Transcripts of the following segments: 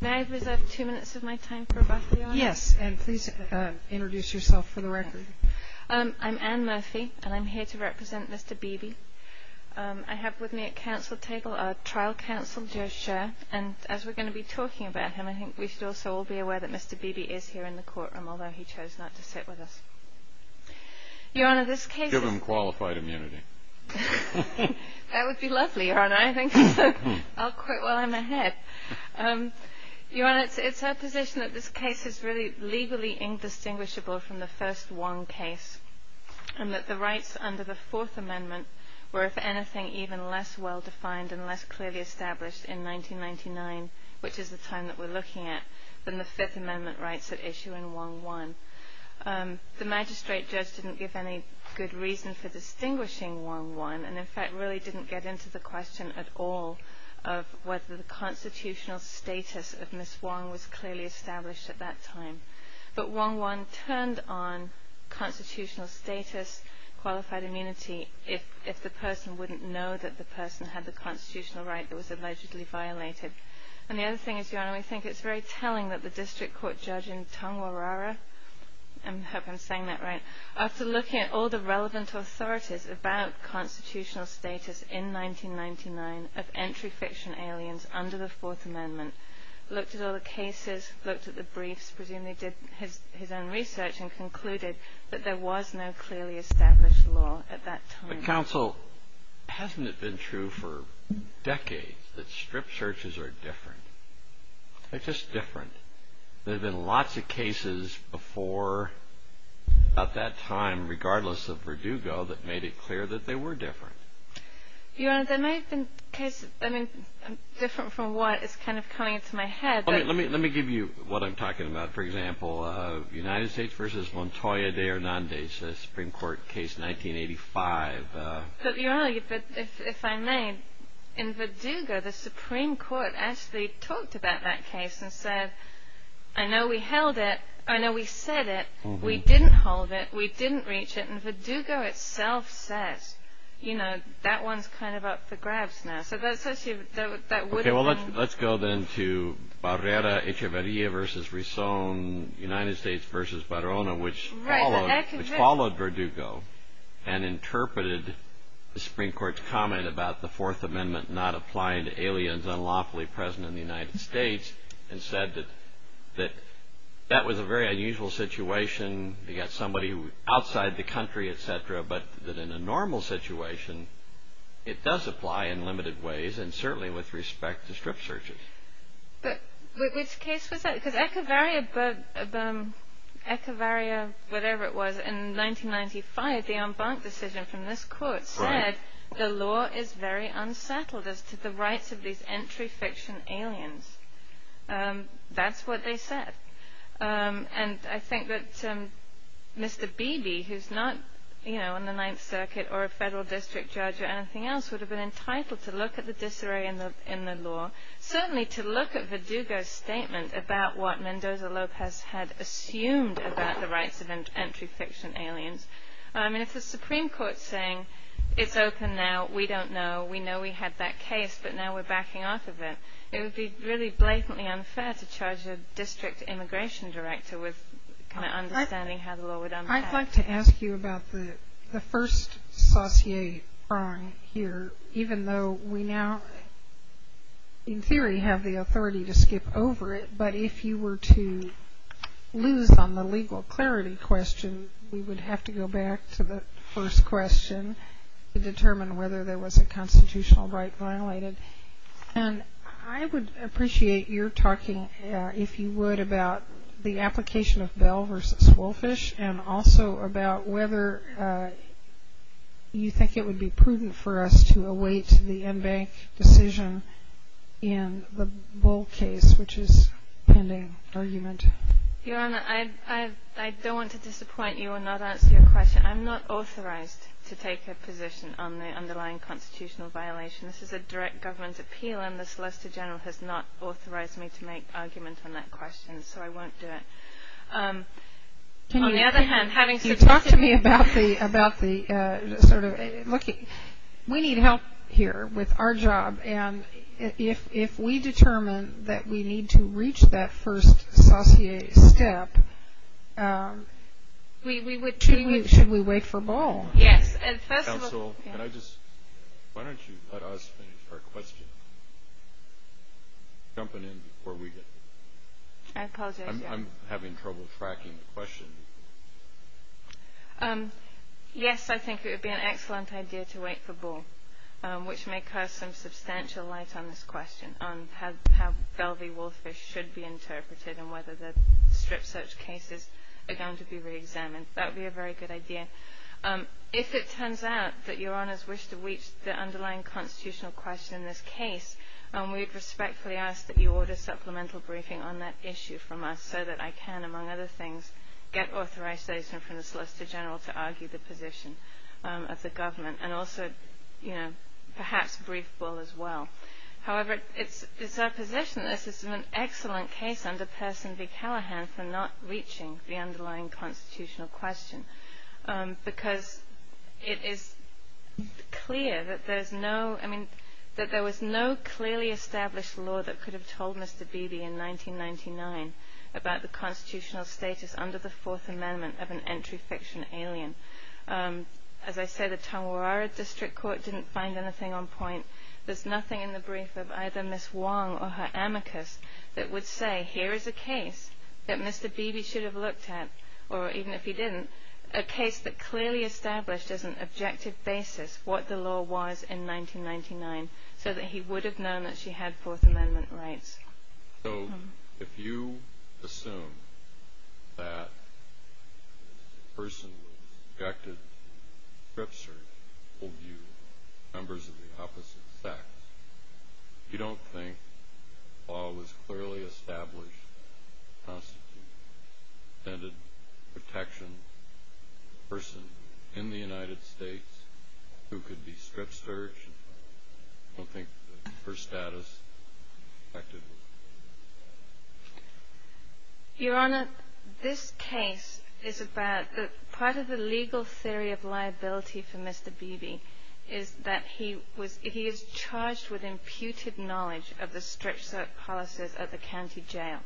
May I reserve two minutes of my time for rebuttal, Your Honor? Yes, and please introduce yourself for the record. I'm Anne Murphy, and I'm here to represent Mr. Beebe. I have with me at council table our trial counsel, Joe Scher, and as we're going to be talking about him, I think we should also all be aware that Mr. Beebe is here in the courtroom, although he chose not to sit with us. Your Honor, this case... Give him qualified immunity. That would be lovely, Your Honor. I'll quit while I'm ahead. Your Honor, it's our position that this case is really legally indistinguishable from the first Wong case and that the rights under the Fourth Amendment were, if anything, even less well-defined and less clearly established in 1999, which is the time that we're looking at, than the Fifth Amendment rights at issue in Wong I. The magistrate judge didn't give any good reason for distinguishing Wong I and, in fact, really didn't get into the question at all of whether the constitutional status of Miss Wong was clearly established at that time. But Wong I turned on constitutional status, qualified immunity, if the person wouldn't know that the person had the constitutional right that was allegedly violated. And the other thing is, Your Honor, we think it's very telling that the district court judge in Tongwarara, I hope I'm saying that right, after looking at all the relevant authorities about constitutional status in 1999 of entry fiction aliens under the Fourth Amendment, looked at all the cases, looked at the briefs, presumably did his own research and concluded that there was no clearly established law at that time. My counsel, hasn't it been true for decades that strip searches are different? They're just different. There have been lots of cases before, at that time, regardless of Verdugo, that made it clear that they were different. Your Honor, there may have been cases, I mean, different from what is kind of coming into my head. Let me give you what I'm talking about. For example, United States v. Montoya de Hernandez, a Supreme Court case, 1985. But Your Honor, if I may, in Verdugo, the Supreme Court actually talked about that case and said, I know we held it, I know we said it, we didn't hold it, we didn't reach it, and Verdugo itself says, you know, that one's kind of up for grabs now. Okay, well, let's go then to Barrera, Echeverria v. Rizón, United States v. Barrona, which followed Verdugo and interpreted the Supreme Court's comment about the Fourth Amendment not applying to aliens unlawfully present in the United States and said that that was a very unusual situation. You've got somebody outside the country, etc., but that in a normal situation, it does apply in limited ways and certainly with respect to strip searches. But which case was that? Because Echeverria, whatever it was, in 1995, the en banc decision from this court said, the law is very unsettled as to the rights of these entry fiction aliens. That's what they said. And I think that Mr. Beebe, who's not on the Ninth Circuit or a federal district judge or anything else, would have been entitled to look at the disarray in the law, certainly to look at Verdugo's statement about what Mendoza-López had assumed about the rights of entry fiction aliens. I mean, if the Supreme Court's saying, it's open now, we don't know, we know we had that case, but now we're backing off of it, it would be really blatantly unfair to charge a district immigration director with kind of understanding how the law would unpack. I'd like to ask you about the first saussure prong here, even though we now, in theory, have the authority to skip over it, but if you were to lose on the legal clarity question, we would have to go back to the first question to determine whether there was a constitutional right violated. And I would appreciate your talking, if you would, about the application of Bell v. Wolfish and also about whether you think it would be prudent for us to await the en banc decision in the Bull case, which is a pending argument. Your Honor, I don't want to disappoint you and not answer your question. I'm not authorized to take a position on the underlying constitutional violation. This is a direct government appeal, and the Solicitor General has not authorized me to make an argument on that question, so I won't do it. On the other hand, having suggested... Can you talk to me about the sort of, look, we need help here with our job, and if we determine that we need to reach that first saussure step, should we wait for Bull? Yes. Counsel, can I just... Why don't you let us finish our question? Jumping in before we get... I apologize, Your Honor. I'm having trouble tracking the question. Yes, I think it would be an excellent idea to wait for Bull, which may cast some substantial light on this question, on how Bell v. Wolfish should be interpreted and whether the strip search cases are going to be reexamined. That would be a very good idea. If it turns out that Your Honors wish to reach the underlying constitutional question in this case, we would respectfully ask that you order supplemental briefing on that issue from us so that I can, among other things, get authorization from the Solicitor General to argue the position of the government and also, you know, perhaps brief Bull as well. However, it's our position that this is an excellent case under Person v. Callaghan for not reaching the underlying constitutional question because it is clear that there's no... I mean, that there was no clearly established law that could have told Mr. Beebe in 1999 about the constitutional status under the Fourth Amendment of an entry fiction alien. As I said, the Tongwarara District Court didn't find anything on point. There's nothing in the brief of either Ms. Wong or her amicus that would say, here is a case that Mr. Beebe should have looked at, or even if he didn't, a case that clearly established as an objective basis what the law was in 1999 so that he would have known that she had Fourth Amendment rights. So, if you assume that a person was subjected to strip search with members of the opposite sex, you don't think the law was clearly established to constitute an intended protection for a person in the United States who could be strip searched? I don't think her status... Your Honor, this case is about... Part of the legal theory of liability for Mr. Beebe is that he is charged with imputed knowledge of the strip search policies at the county jail.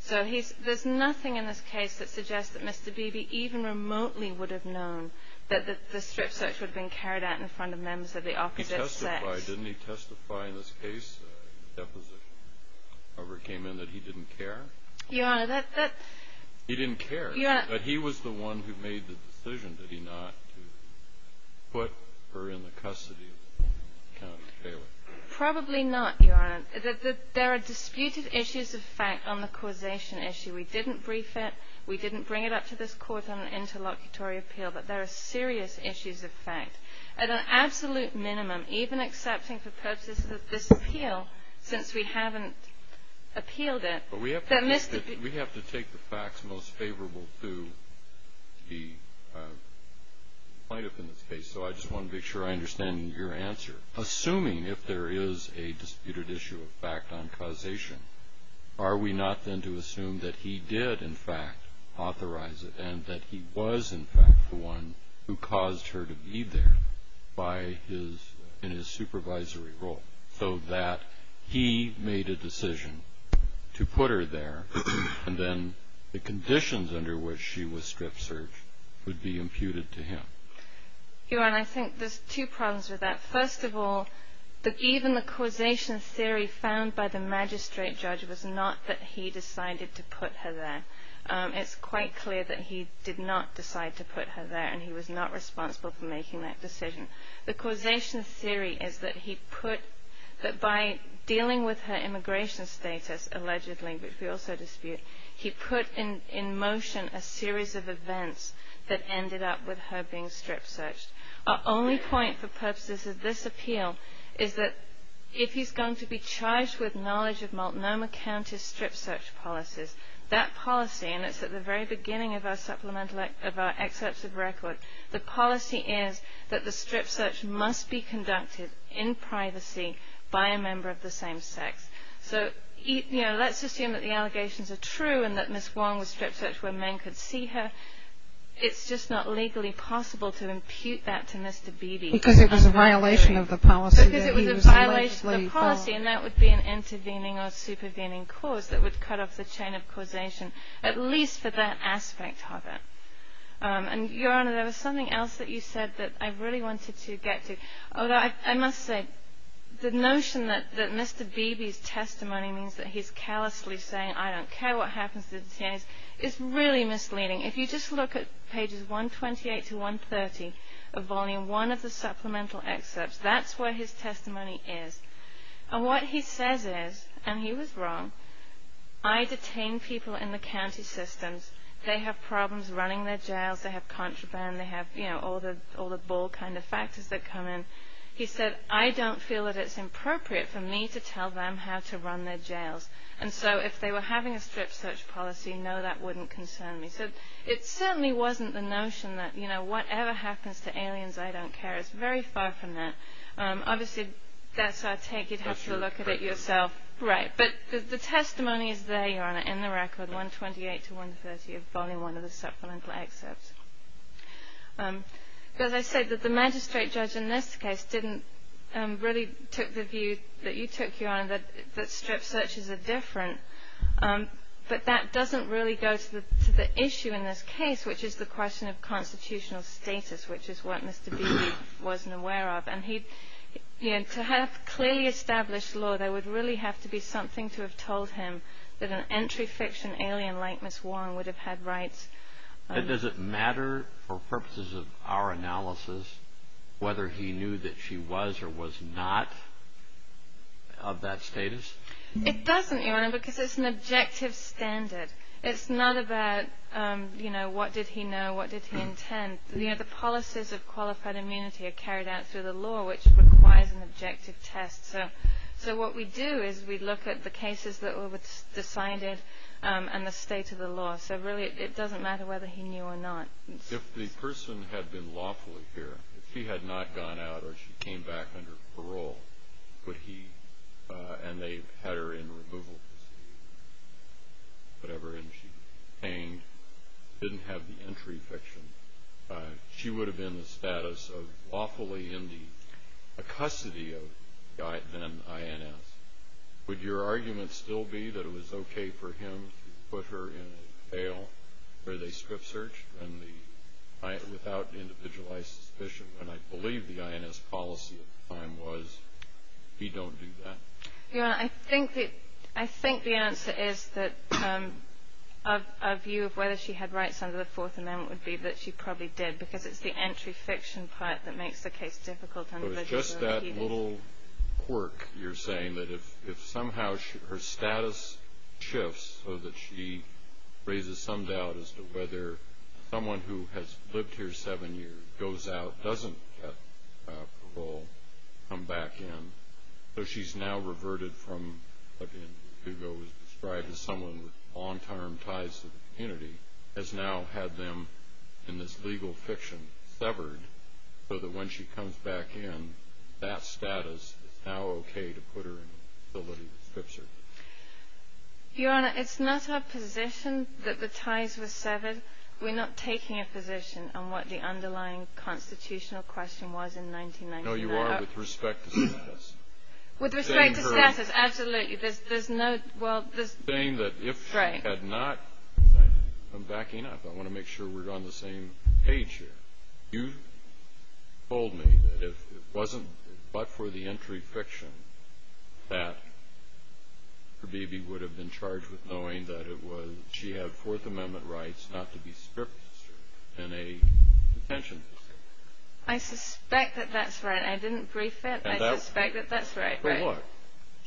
So, there's nothing in this case that suggests that Mr. Beebe even remotely would have known that the strip search would have been carried out in front of members of the opposite sex. Didn't he testify in this case, in the deposition, that he didn't care? Your Honor, that... He didn't care, but he was the one who made the decision, did he not, to put her in the custody of the county jail? Probably not, Your Honor. There are disputed issues of fact on the causation issue. We didn't brief it, we didn't bring it up to this Court on an interlocutory appeal, but there are serious issues of fact. At an absolute minimum, even accepting for purposes of this appeal, since we haven't appealed it... But we have to take the facts most favorable to the plaintiff in this case, so I just want to make sure I understand your answer. Assuming if there is a disputed issue of fact on causation, are we not then to assume that he did, in fact, authorize it, and that he was, in fact, the one who caused her to be there in his supervisory role, so that he made a decision to put her there, and then the conditions under which she was strip-searched would be imputed to him? Your Honor, I think there's two problems with that. First of all, even the causation theory found by the magistrate judge was not that he decided to put her there. It's quite clear that he did not decide to put her there, and he was not responsible for making that decision. The causation theory is that he put... that by dealing with her immigration status, allegedly, which we also dispute, he put in motion a series of events that ended up with her being strip-searched. Our only point for purposes of this appeal is that if he's going to be charged with knowledge of Multnomah County's strip-search policies, that policy, and it's at the very beginning of our supplemental... of our excerpts of record, the policy is that the strip-search must be conducted in privacy by a member of the same sex. So, you know, let's assume that the allegations are true, and that Ms. Wong was strip-searched where men could see her. It's just not legally possible to impute that to Mr. Beebe. Because it was a violation of the policy that he was allegedly... Because it was a violation of the policy, and that would be an intervening or supervening cause that would cut off the chain of causation, at least for that aspect of it. And, Your Honor, there was something else that you said that I really wanted to get to. Although, I must say, the notion that Mr. Beebe's testimony means that he's callously saying, I don't care what happens to the TAs, is really misleading. If you just look at pages 128 to 130 of Volume 1 of the supplemental excerpts, that's where his testimony is. And what he says is, and he was wrong, I detain people in the county systems. They have problems running their jails. They have contraband. They have, you know, all the ball kind of factors that come in. He said, I don't feel that it's appropriate for me to tell them how to run their jails. And so, if they were having a strip-search policy, no, that wouldn't concern me. So, it certainly wasn't the notion that, you know, whatever happens to aliens, I don't care. It's very far from that. Obviously, that's our take. You'd have to look at it yourself. Right. But the testimony is there, Your Honor, in the record, 128 to 130 of Volume 1 of the supplemental excerpts. As I said, the magistrate judge in this case didn't really take the view that you took, Your Honor, that strip-searches are different. But that doesn't really go to the issue in this case, which is the question of constitutional status, which is what Mr. Beebe wasn't aware of. And to have clearly established law, there would really have to be something to have told him that an entry fiction alien like Ms. Warren would have had rights. Does it matter for purposes of our analysis whether he knew that she was or was not of that status? It doesn't, Your Honor, because it's an objective standard. It's not about, you know, what did he know, what did he intend. You know, the policies of qualified immunity are carried out through the law, which requires an objective test. So what we do is we look at the cases that were decided and the state of the law. So really it doesn't matter whether he knew or not. If the person had been lawfully here, if she had not gone out or she came back under parole, and they had her in removal, whatever, and she hanged, didn't have the entry fiction, she would have been in the status of lawfully in the custody of the then INS. Would your argument still be that it was okay for him to put her in a jail where they script-searched without individualized suspicion when I believe the INS policy at the time was he don't do that? Your Honor, I think the answer is that a view of whether she had rights under the Fourth Amendment would be that she probably did because it's the entry fiction part that makes the case difficult. So it's just that little quirk you're saying that if somehow her status shifts so that she raises some doubt as to whether someone who has lived here seven years goes out, doesn't get parole, come back in. So she's now reverted from what was described as someone with long-term ties to the community, has now had them in this legal fiction severed so that when she comes back in, that status is now okay to put her in a facility that scripts her. Your Honor, it's not our position that the ties were severed. We're not taking a position on what the underlying constitutional question was in 1999. No, you are with respect to status. With respect to status, absolutely. There's no... Saying that if she had not... I'm backing up. I want to make sure we're on the same page here. You've told me that if it wasn't but for the entry fiction that her baby would have been charged with knowing that she had Fourth Amendment rights not to be scripted and a detention facility. I suspect that that's right. I didn't brief it. I suspect that that's right. For what?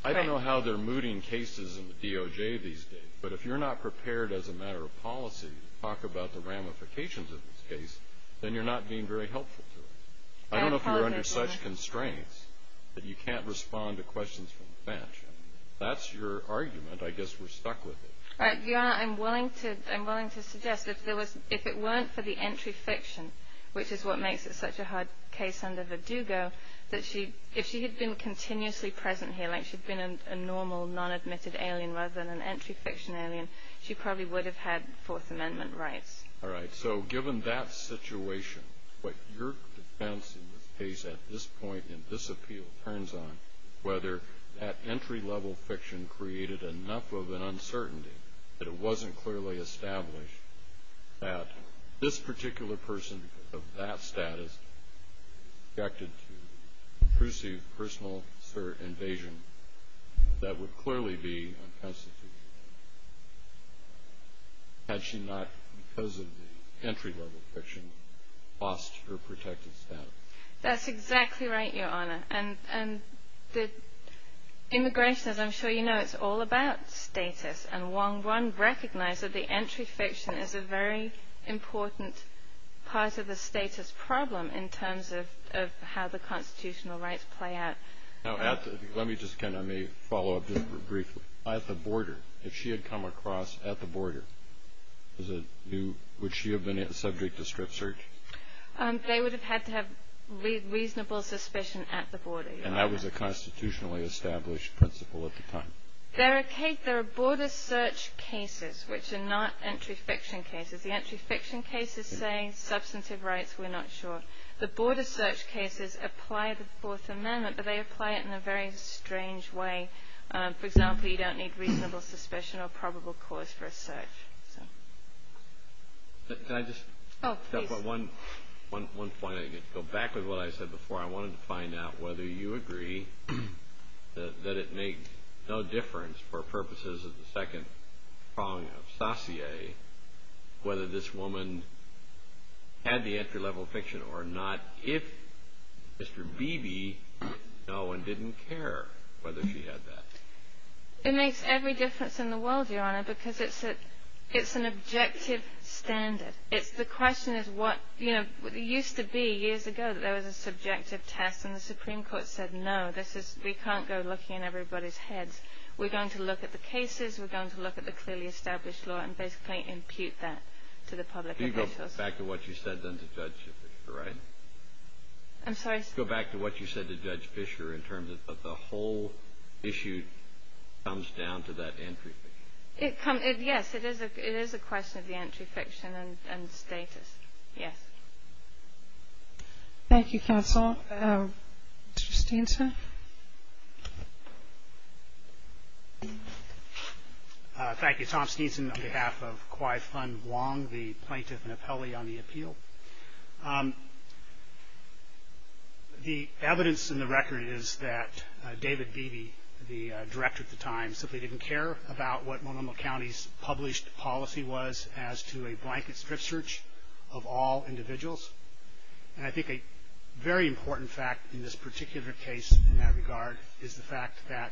I don't know how they're mooting cases in the DOJ these days, but if you're not prepared as a matter of policy to talk about the ramifications of this case, then you're not being very helpful to it. I don't know if you're under such constraints that you can't respond to questions from the bench. That's your argument. I guess we're stuck with it. Your Honor, I'm willing to suggest that if it weren't for the entry fiction, which is what makes it such a hard case under Verdugo, that if she had been continuously present here, like she'd been a normal non-admitted alien rather than an entry fiction alien, she probably would have had Fourth Amendment rights. All right. So given that situation, what your defense in this case at this point in this appeal turns on, whether that entry-level fiction created enough of an uncertainty that it wasn't clearly established that this particular person of that status was subjected to intrusive personal invasion that would clearly be unconstitutional. Had she not, because of the entry-level fiction, lost her protected status. That's exactly right, Your Honor. And immigration, as I'm sure you know, it's all about status. And Wong Run recognized that the entry fiction is a very important part of the status problem in terms of how the constitutional rights play out. Now, let me just kind of follow up just briefly. At the border, if she had come across at the border, would she have been subject to strip search? They would have had to have reasonable suspicion at the border. And that was a constitutionally established principle at the time. There are border search cases which are not entry fiction cases. The entry fiction cases say substantive rights, we're not sure. The border search cases apply the Fourth Amendment, but they apply it in a very strange way. For example, you don't need reasonable suspicion or probable cause for a search. Can I just – Oh, please. One point. To go back to what I said before, I wanted to find out whether you agree that it made no difference for purposes of the second prong of sacier whether this woman had the entry-level fiction or not, if Mr. Beebe didn't know and didn't care whether she had that. It makes every difference in the world, Your Honor, because it's an objective standard. The question is what – It used to be years ago that there was a subjective test, and the Supreme Court said, no, we can't go looking in everybody's heads. We're going to look at the cases, we're going to look at the clearly established law, and basically impute that to the public officials. Can you go back to what you said then to Judge Fischer, right? I'm sorry? Go back to what you said to Judge Fischer in terms of the whole issue comes down to that entry fiction. Yes, it is a question of the entry fiction and status, yes. Thank you, counsel. Mr. Steenson? Thank you. Tom Steenson on behalf of Kwai Fun Wong, the plaintiff and appellee on the appeal. The evidence in the record is that David Beebe, the director at the time, simply didn't care about what Multnomah County's published policy was as to a blanket strip search of all individuals. And I think a very important fact in this particular case in that regard is the fact that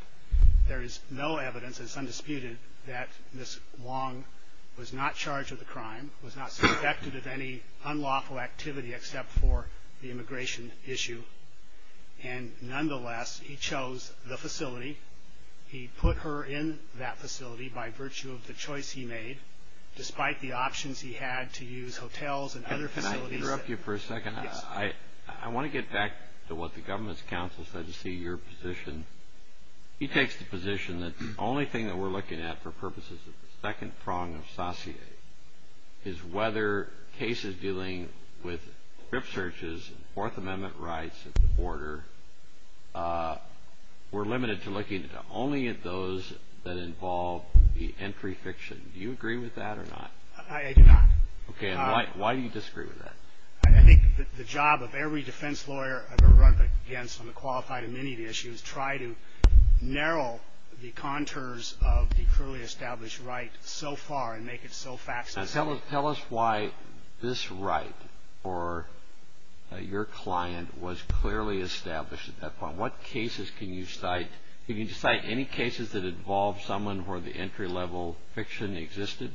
there is no evidence, it's undisputed, that Ms. Wong was not charged with a crime, was not suspected of any unlawful activity except for the immigration issue. And nonetheless, he chose the facility. He put her in that facility by virtue of the choice he made, despite the options he had to use hotels and other facilities. Can I interrupt you for a second? Yes. I want to get back to what the government's counsel said to see your position. He takes the position that the only thing that we're looking at for purposes of the second prong of Saussure is whether cases dealing with strip searches and Fourth Amendment rights at the border, we're limited to looking only at those that involve the entry fiction. Do you agree with that or not? I do not. Okay. And why do you disagree with that? I think the job of every defense lawyer I've ever run up against on the qualified amenity issue is try to narrow the contours of the clearly established right so far and make it so fact-specific. Tell us why this right for your client was clearly established at that point. What cases can you cite? Can you cite any cases that involve someone where the entry-level fiction existed?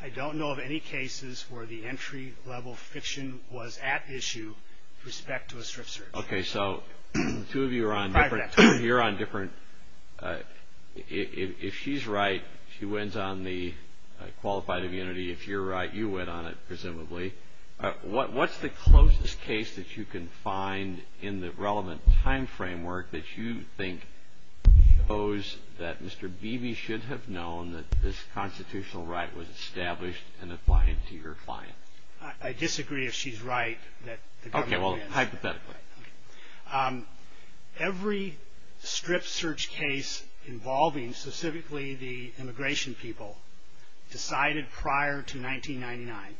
I don't know of any cases where the entry-level fiction was at issue with respect to a strip search. Okay. So the two of you are on different – if she's right, she wins on the qualified amenity. If you're right, you win on it, presumably. What's the closest case that you can find in the relevant time framework that you think shows that Mr. Beebe should have known that this constitutional right was established and applied to your client? I disagree if she's right that the government is. Okay. Well, hypothetically. Every strip search case involving specifically the immigration people decided prior to 1999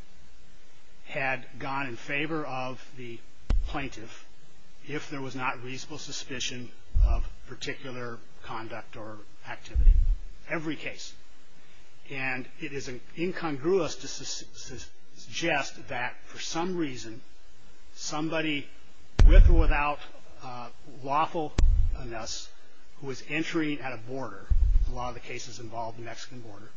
had gone in favor of the plaintiff if there was not reasonable suspicion of particular conduct or activity. Every case. And it is incongruous to suggest that for some reason somebody with or without lawfulness who was entering at a border, a lot of the cases involved the Mexican border,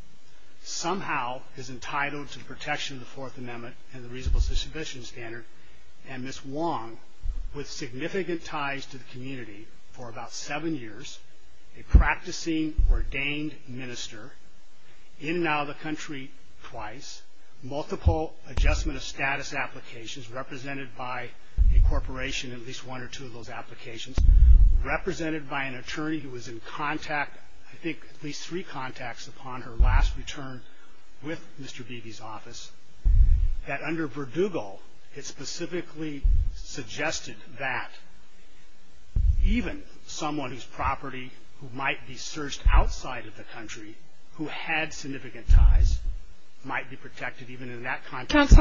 somehow is entitled to the protection of the Fourth Amendment and the reasonable suspicion standard, and Ms. Wong, with significant ties to the community for about seven years, a practicing ordained minister, in and out of the country twice, multiple adjustment of status applications represented by a corporation, at least one or two of those applications, represented by an attorney who was in contact, I think at least three contacts upon her last return with Mr. Beebe's office, that under Verdugo it specifically suggested that even someone whose property might be searched outside of the country who had significant ties might be protected even in that context.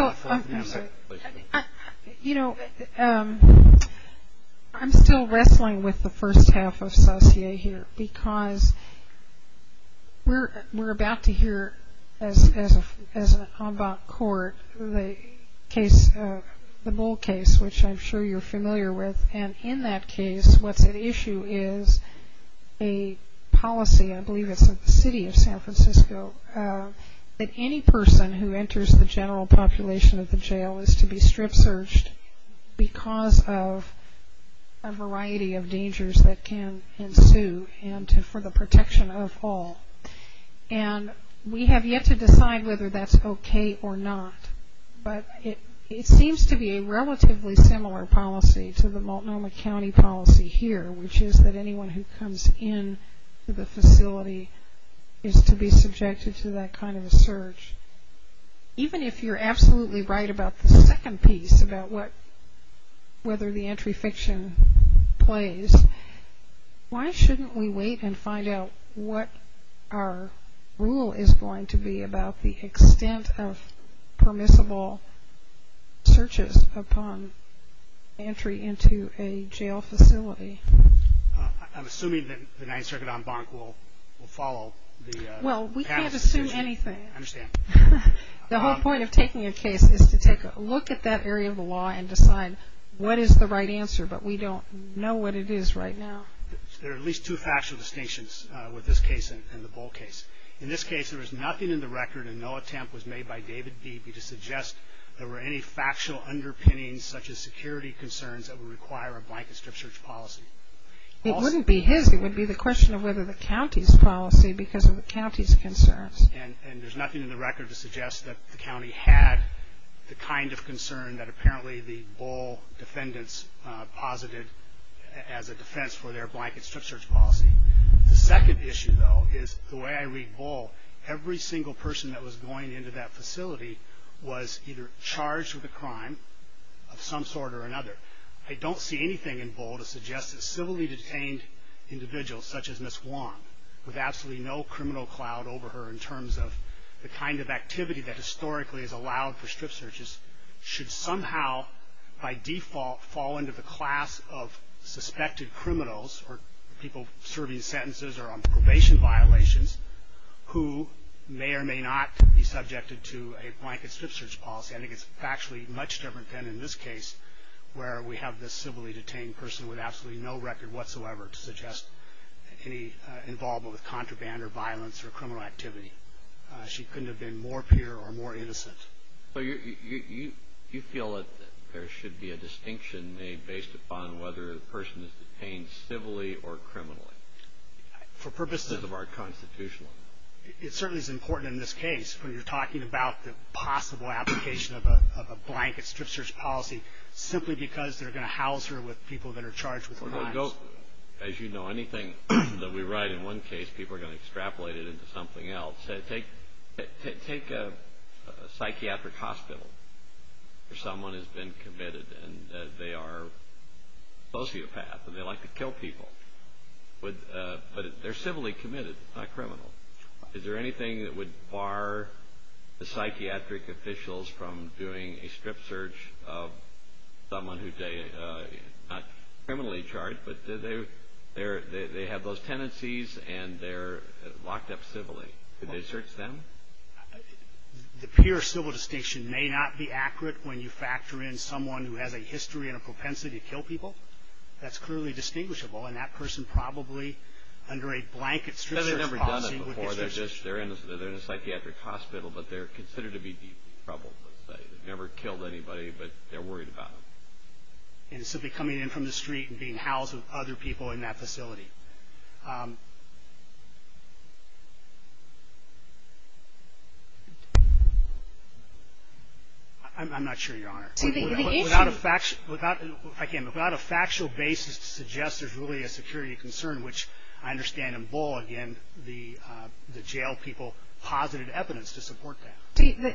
You know, I'm still wrestling with the first half of Saussure here, because we're about to hear as an en banc court the case, the Bull case, which I'm sure you're familiar with, and in that case what's at issue is a policy, I believe it's the city of San Francisco, that any person who enters the general population of the jail is to be strip searched because of a variety of dangers that can ensue and for the protection of all, and we have yet to decide whether that's okay or not, but it seems to be a relatively similar policy to the Multnomah County policy here, which is that anyone who comes into the facility is to be subjected to that kind of a search. Even if you're absolutely right about the second piece about whether the entry fiction plays, why shouldn't we wait and find out what our rule is going to be about the extent of permissible searches upon entry into a jail facility? I'm assuming that the Ninth Circuit en banc will follow the past decision. Well, we can't assume anything. I understand. The whole point of taking a case is to take a look at that area of the law and decide what is the right answer, but we don't know what it is right now. There are at least two factual distinctions with this case and the Bull case. In this case, there was nothing in the record and no attempt was made by David Beebe to suggest there were any factual underpinnings such as security concerns that would require a blanket strip search policy. It wouldn't be his. It would be the question of whether the county's policy because of the county's concerns. And there's nothing in the record to suggest that the county had the kind of concern that apparently the Bull defendants posited as a defense for their blanket strip search policy. The second issue, though, is the way I read Bull, every single person that was going into that facility was either charged with a crime of some sort or another. I don't see anything in Bull to suggest that civilly detained individuals such as Miss Wong, with absolutely no criminal cloud over her in terms of the kind of activity that historically has allowed for strip searches, should somehow by default fall into the class of suspected criminals or people serving sentences or on probation violations who may or may not be subjected to a blanket strip search policy. I think it's factually much different than in this case where we have this civilly detained person with absolutely no record whatsoever to suggest any involvement with contraband or violence or criminal activity. She couldn't have been more pure or more innocent. You feel that there should be a distinction made based upon whether the person is detained civilly or criminally because of our constitutional. It certainly is important in this case when you're talking about the possible application of a blanket strip search policy simply because they're going to house her with people that are charged with crimes. As you know, anything that we write in one case, people are going to extrapolate it to something else. Take a psychiatric hospital where someone has been committed and they are a sociopath and they like to kill people, but they're civilly committed, not criminal. Is there anything that would bar the psychiatric officials from doing a strip search of someone who's not criminally charged, but they have those tendencies and they're locked up civilly? Could they search them? The pure civil distinction may not be accurate when you factor in someone who has a history and a propensity to kill people. That's clearly distinguishable, and that person probably under a blanket strip search policy would be searching. They've never done it before. They're in a psychiatric hospital, but they're considered to be deeply troubled, let's say. They've never killed anybody, but they're worried about them. And simply coming in from the street and being housed with other people in that facility. I'm not sure, Your Honor. Without a factual basis to suggest there's really a security concern, which I understand in Bull, again, the jail people posited evidence to support that.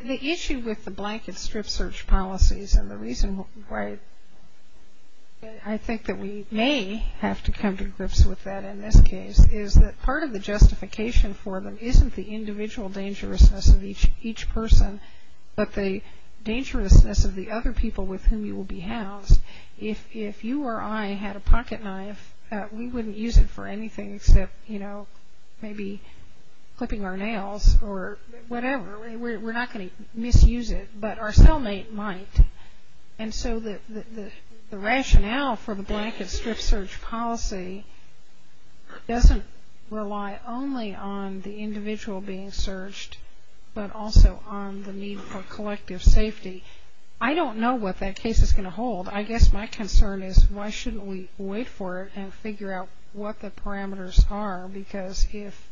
The issue with the blanket strip search policies and the reason why I think that we may have to come to grips with that in this case is that part of the justification for them isn't the individual dangerousness of each person, but the dangerousness of the other people with whom you will be housed. If you or I had a pocket knife, we wouldn't use it for anything except, you know, maybe clipping our nails or whatever. We're not going to misuse it, but our cellmate might. And so the rationale for the blanket strip search policy doesn't rely only on the individual being searched, but also on the need for collective safety. I don't know what that case is going to hold. I guess my concern is why shouldn't we wait for it and figure out what the parameters are, because if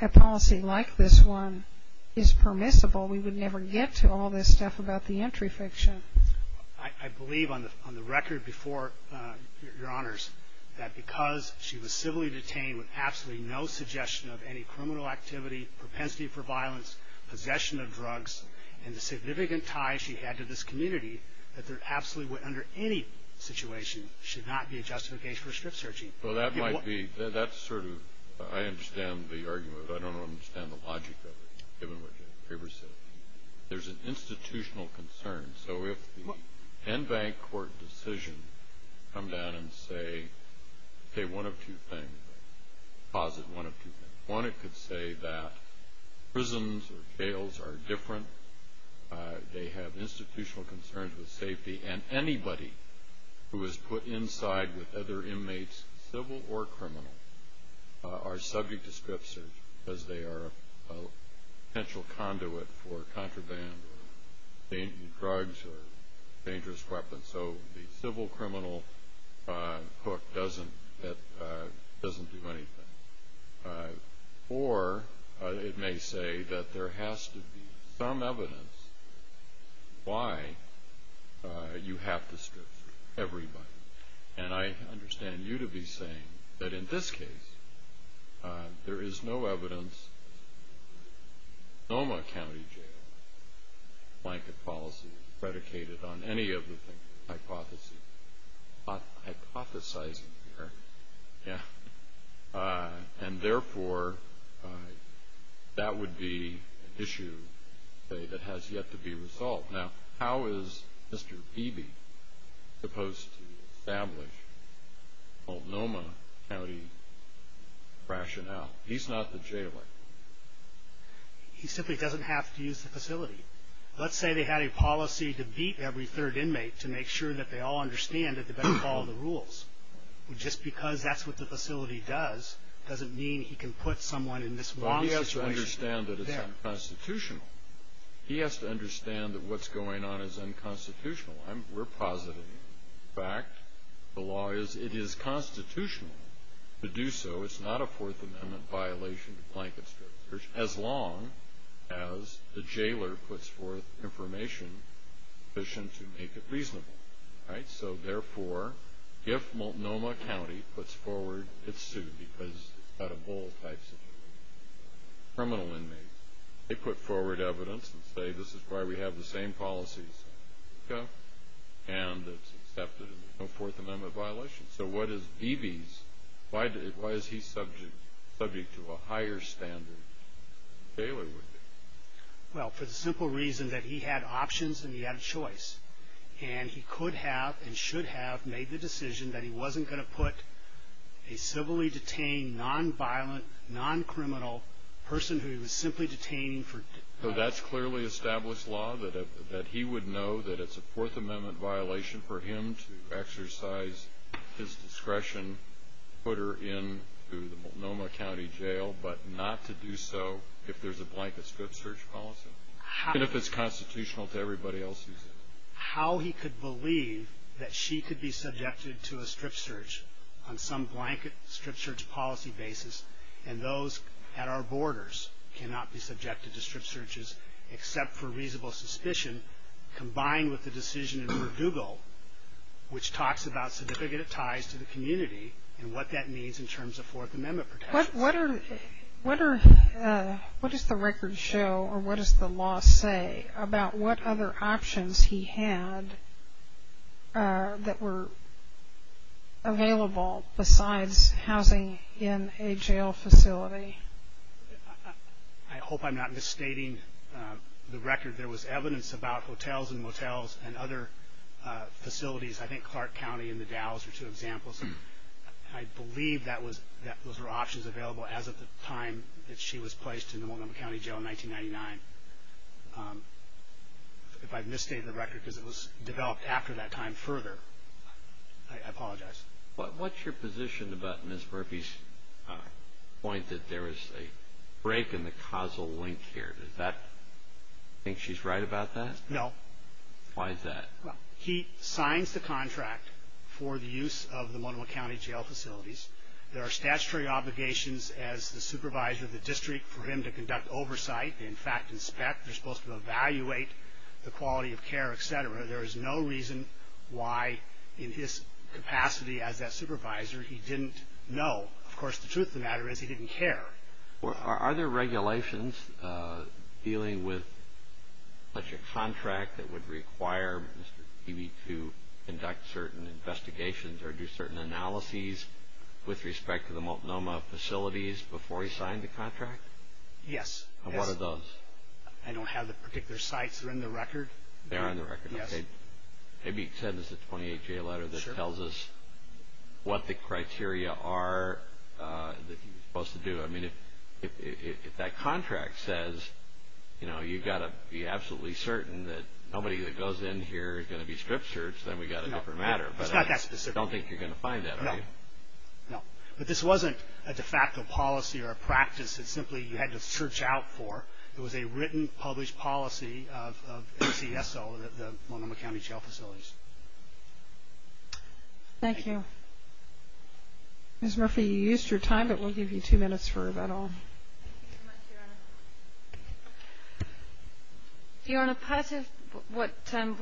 a policy like this one is permissible, we would never get to all this stuff about the entry fiction. I believe on the record before, Your Honors, that because she was civilly detained with absolutely no suggestion of any criminal activity, propensity for violence, possession of drugs, and the significant ties she had to this community, that there absolutely under any situation should not be a justification for strip searching. Well, that might be – that's sort of – I understand the argument, but I don't understand the logic of it, given what the paper said. There's an institutional concern. So if the Enbank court decision come down and say, say one of two things, posit one of two things. One, it could say that prisons or jails are different. They have institutional concerns with safety. And anybody who is put inside with other inmates, civil or criminal, are subject to strip search, because they are a potential conduit for contraband or dangerous drugs or dangerous weapons. So the civil criminal hook doesn't do anything. Or it may say that there has to be some evidence why you have to strip search everybody. And I understand you to be saying that in this case, there is no evidence. Noma County Jail blanket policy is predicated on any of the hypotheses. I'm hypothesizing here. Yeah. And therefore, that would be an issue that has yet to be resolved. Now, how is Mr. Beebe supposed to establish the Noma County rationale? He's not the jailer. He simply doesn't have to use the facility. Let's say they had a policy to beat every third inmate to make sure that they all understand that they better follow the rules. Just because that's what the facility does doesn't mean he can put someone in this wrong situation. But he has to understand that it's unconstitutional. He has to understand that what's going on is unconstitutional. We're positive. In fact, the law is it is constitutional to do so. It's not a Fourth Amendment violation to blanket strip search as long as the jailer puts forth information sufficient to make it reasonable. So, therefore, if Noma County puts forward it's sued because it's got a bull type situation. Criminal inmates, they put forward evidence and say this is why we have the same policies. And it's accepted as a Fourth Amendment violation. So what is Beebe's? Why is he subject to a higher standard than the jailer would be? Well, for the simple reason that he had options and he had a choice. And he could have and should have made the decision that he wasn't going to put a civilly detained, non-violent, non-criminal person who he was simply detaining. So that's clearly established law that he would know that it's a Fourth Amendment violation for him to exercise his discretion, put her into the Noma County Jail, but not to do so if there's a blanket strip search policy. Even if it's constitutional to everybody else who's in it. How he could believe that she could be subjected to a strip search on some blanket strip search policy basis, and those at our borders cannot be subjected to strip searches except for reasonable suspicion, combined with the decision in Verdugo, which talks about significant ties to the community and what that means in terms of Fourth Amendment protections. What does the record show or what does the law say about what other options he had that were available besides housing in a jail facility? I hope I'm not misstating the record. There was evidence about hotels and motels and other facilities. I think Clark County and the Dalles are two examples. I believe those were options available as of the time that she was placed in the Montgomery County Jail in 1999. If I've misstated the record because it was developed after that time further, I apologize. What's your position about Ms. Murphy's point that there is a break in the causal link here? Does that mean she's right about that? No. Why is that? He signs the contract for the use of the Montgomery County Jail facilities. There are statutory obligations as the supervisor of the district for him to conduct oversight, in fact inspect, they're supposed to evaluate the quality of care, et cetera. There is no reason why in his capacity as that supervisor he didn't know. Of course, the truth of the matter is he didn't care. Are there regulations dealing with such a contract that would require Mr. Peavy to conduct certain investigations or do certain analyses with respect to the Multnomah facilities before he signed the contract? Yes. What are those? I don't have the particular sites. They're in the record. They are in the record. Yes. Maybe he sent us a 28-J letter that tells us what the criteria are that he was supposed to do. I mean, if that contract says, you know, you've got to be absolutely certain that nobody that goes in here is going to be script searched, then we've got a different matter. It's not that specific. I don't think you're going to find that, are you? No. But this wasn't a de facto policy or a practice that simply you had to search out for. It was a written, published policy of FTSO, the Multnomah County Jail Facilities. Thank you. Ms. Murphy, you used your time, but we'll give you two minutes for that all. Thank you so much, Your Honor. Your Honor, part of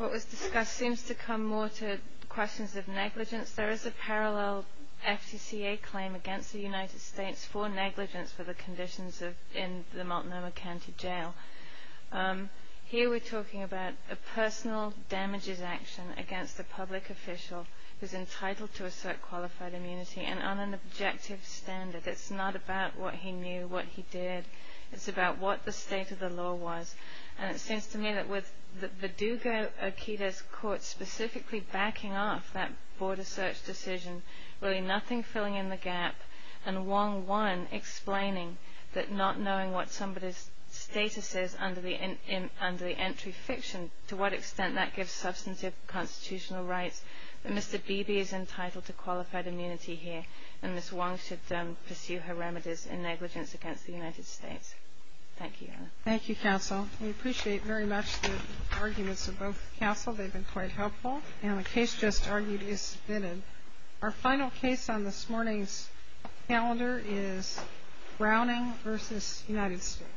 what was discussed seems to come more to questions of negligence. There is a parallel FTCA claim against the United States for negligence for the conditions in the Multnomah County Jail. Here we're talking about a personal damages action against a public official who's entitled to assert qualified immunity and on an objective standard. It's not about what he knew, what he did. It's about what the state of the law was. And it seems to me that with the Dugo-Oqueda court specifically backing off that border search decision, really nothing filling in the gap, and Wong Won explaining that not knowing what somebody's status is under the entry fiction, to what extent that gives substantive constitutional rights, that Mr. Beebe is entitled to qualified immunity here, and Ms. Wong should pursue her remedies in negligence against the United States. Thank you, Your Honor. Thank you, counsel. We appreciate very much the arguments of both counsel. They've been quite helpful. And the case just argued is submitted. Our final case on this morning's calendar is Browning v. United States.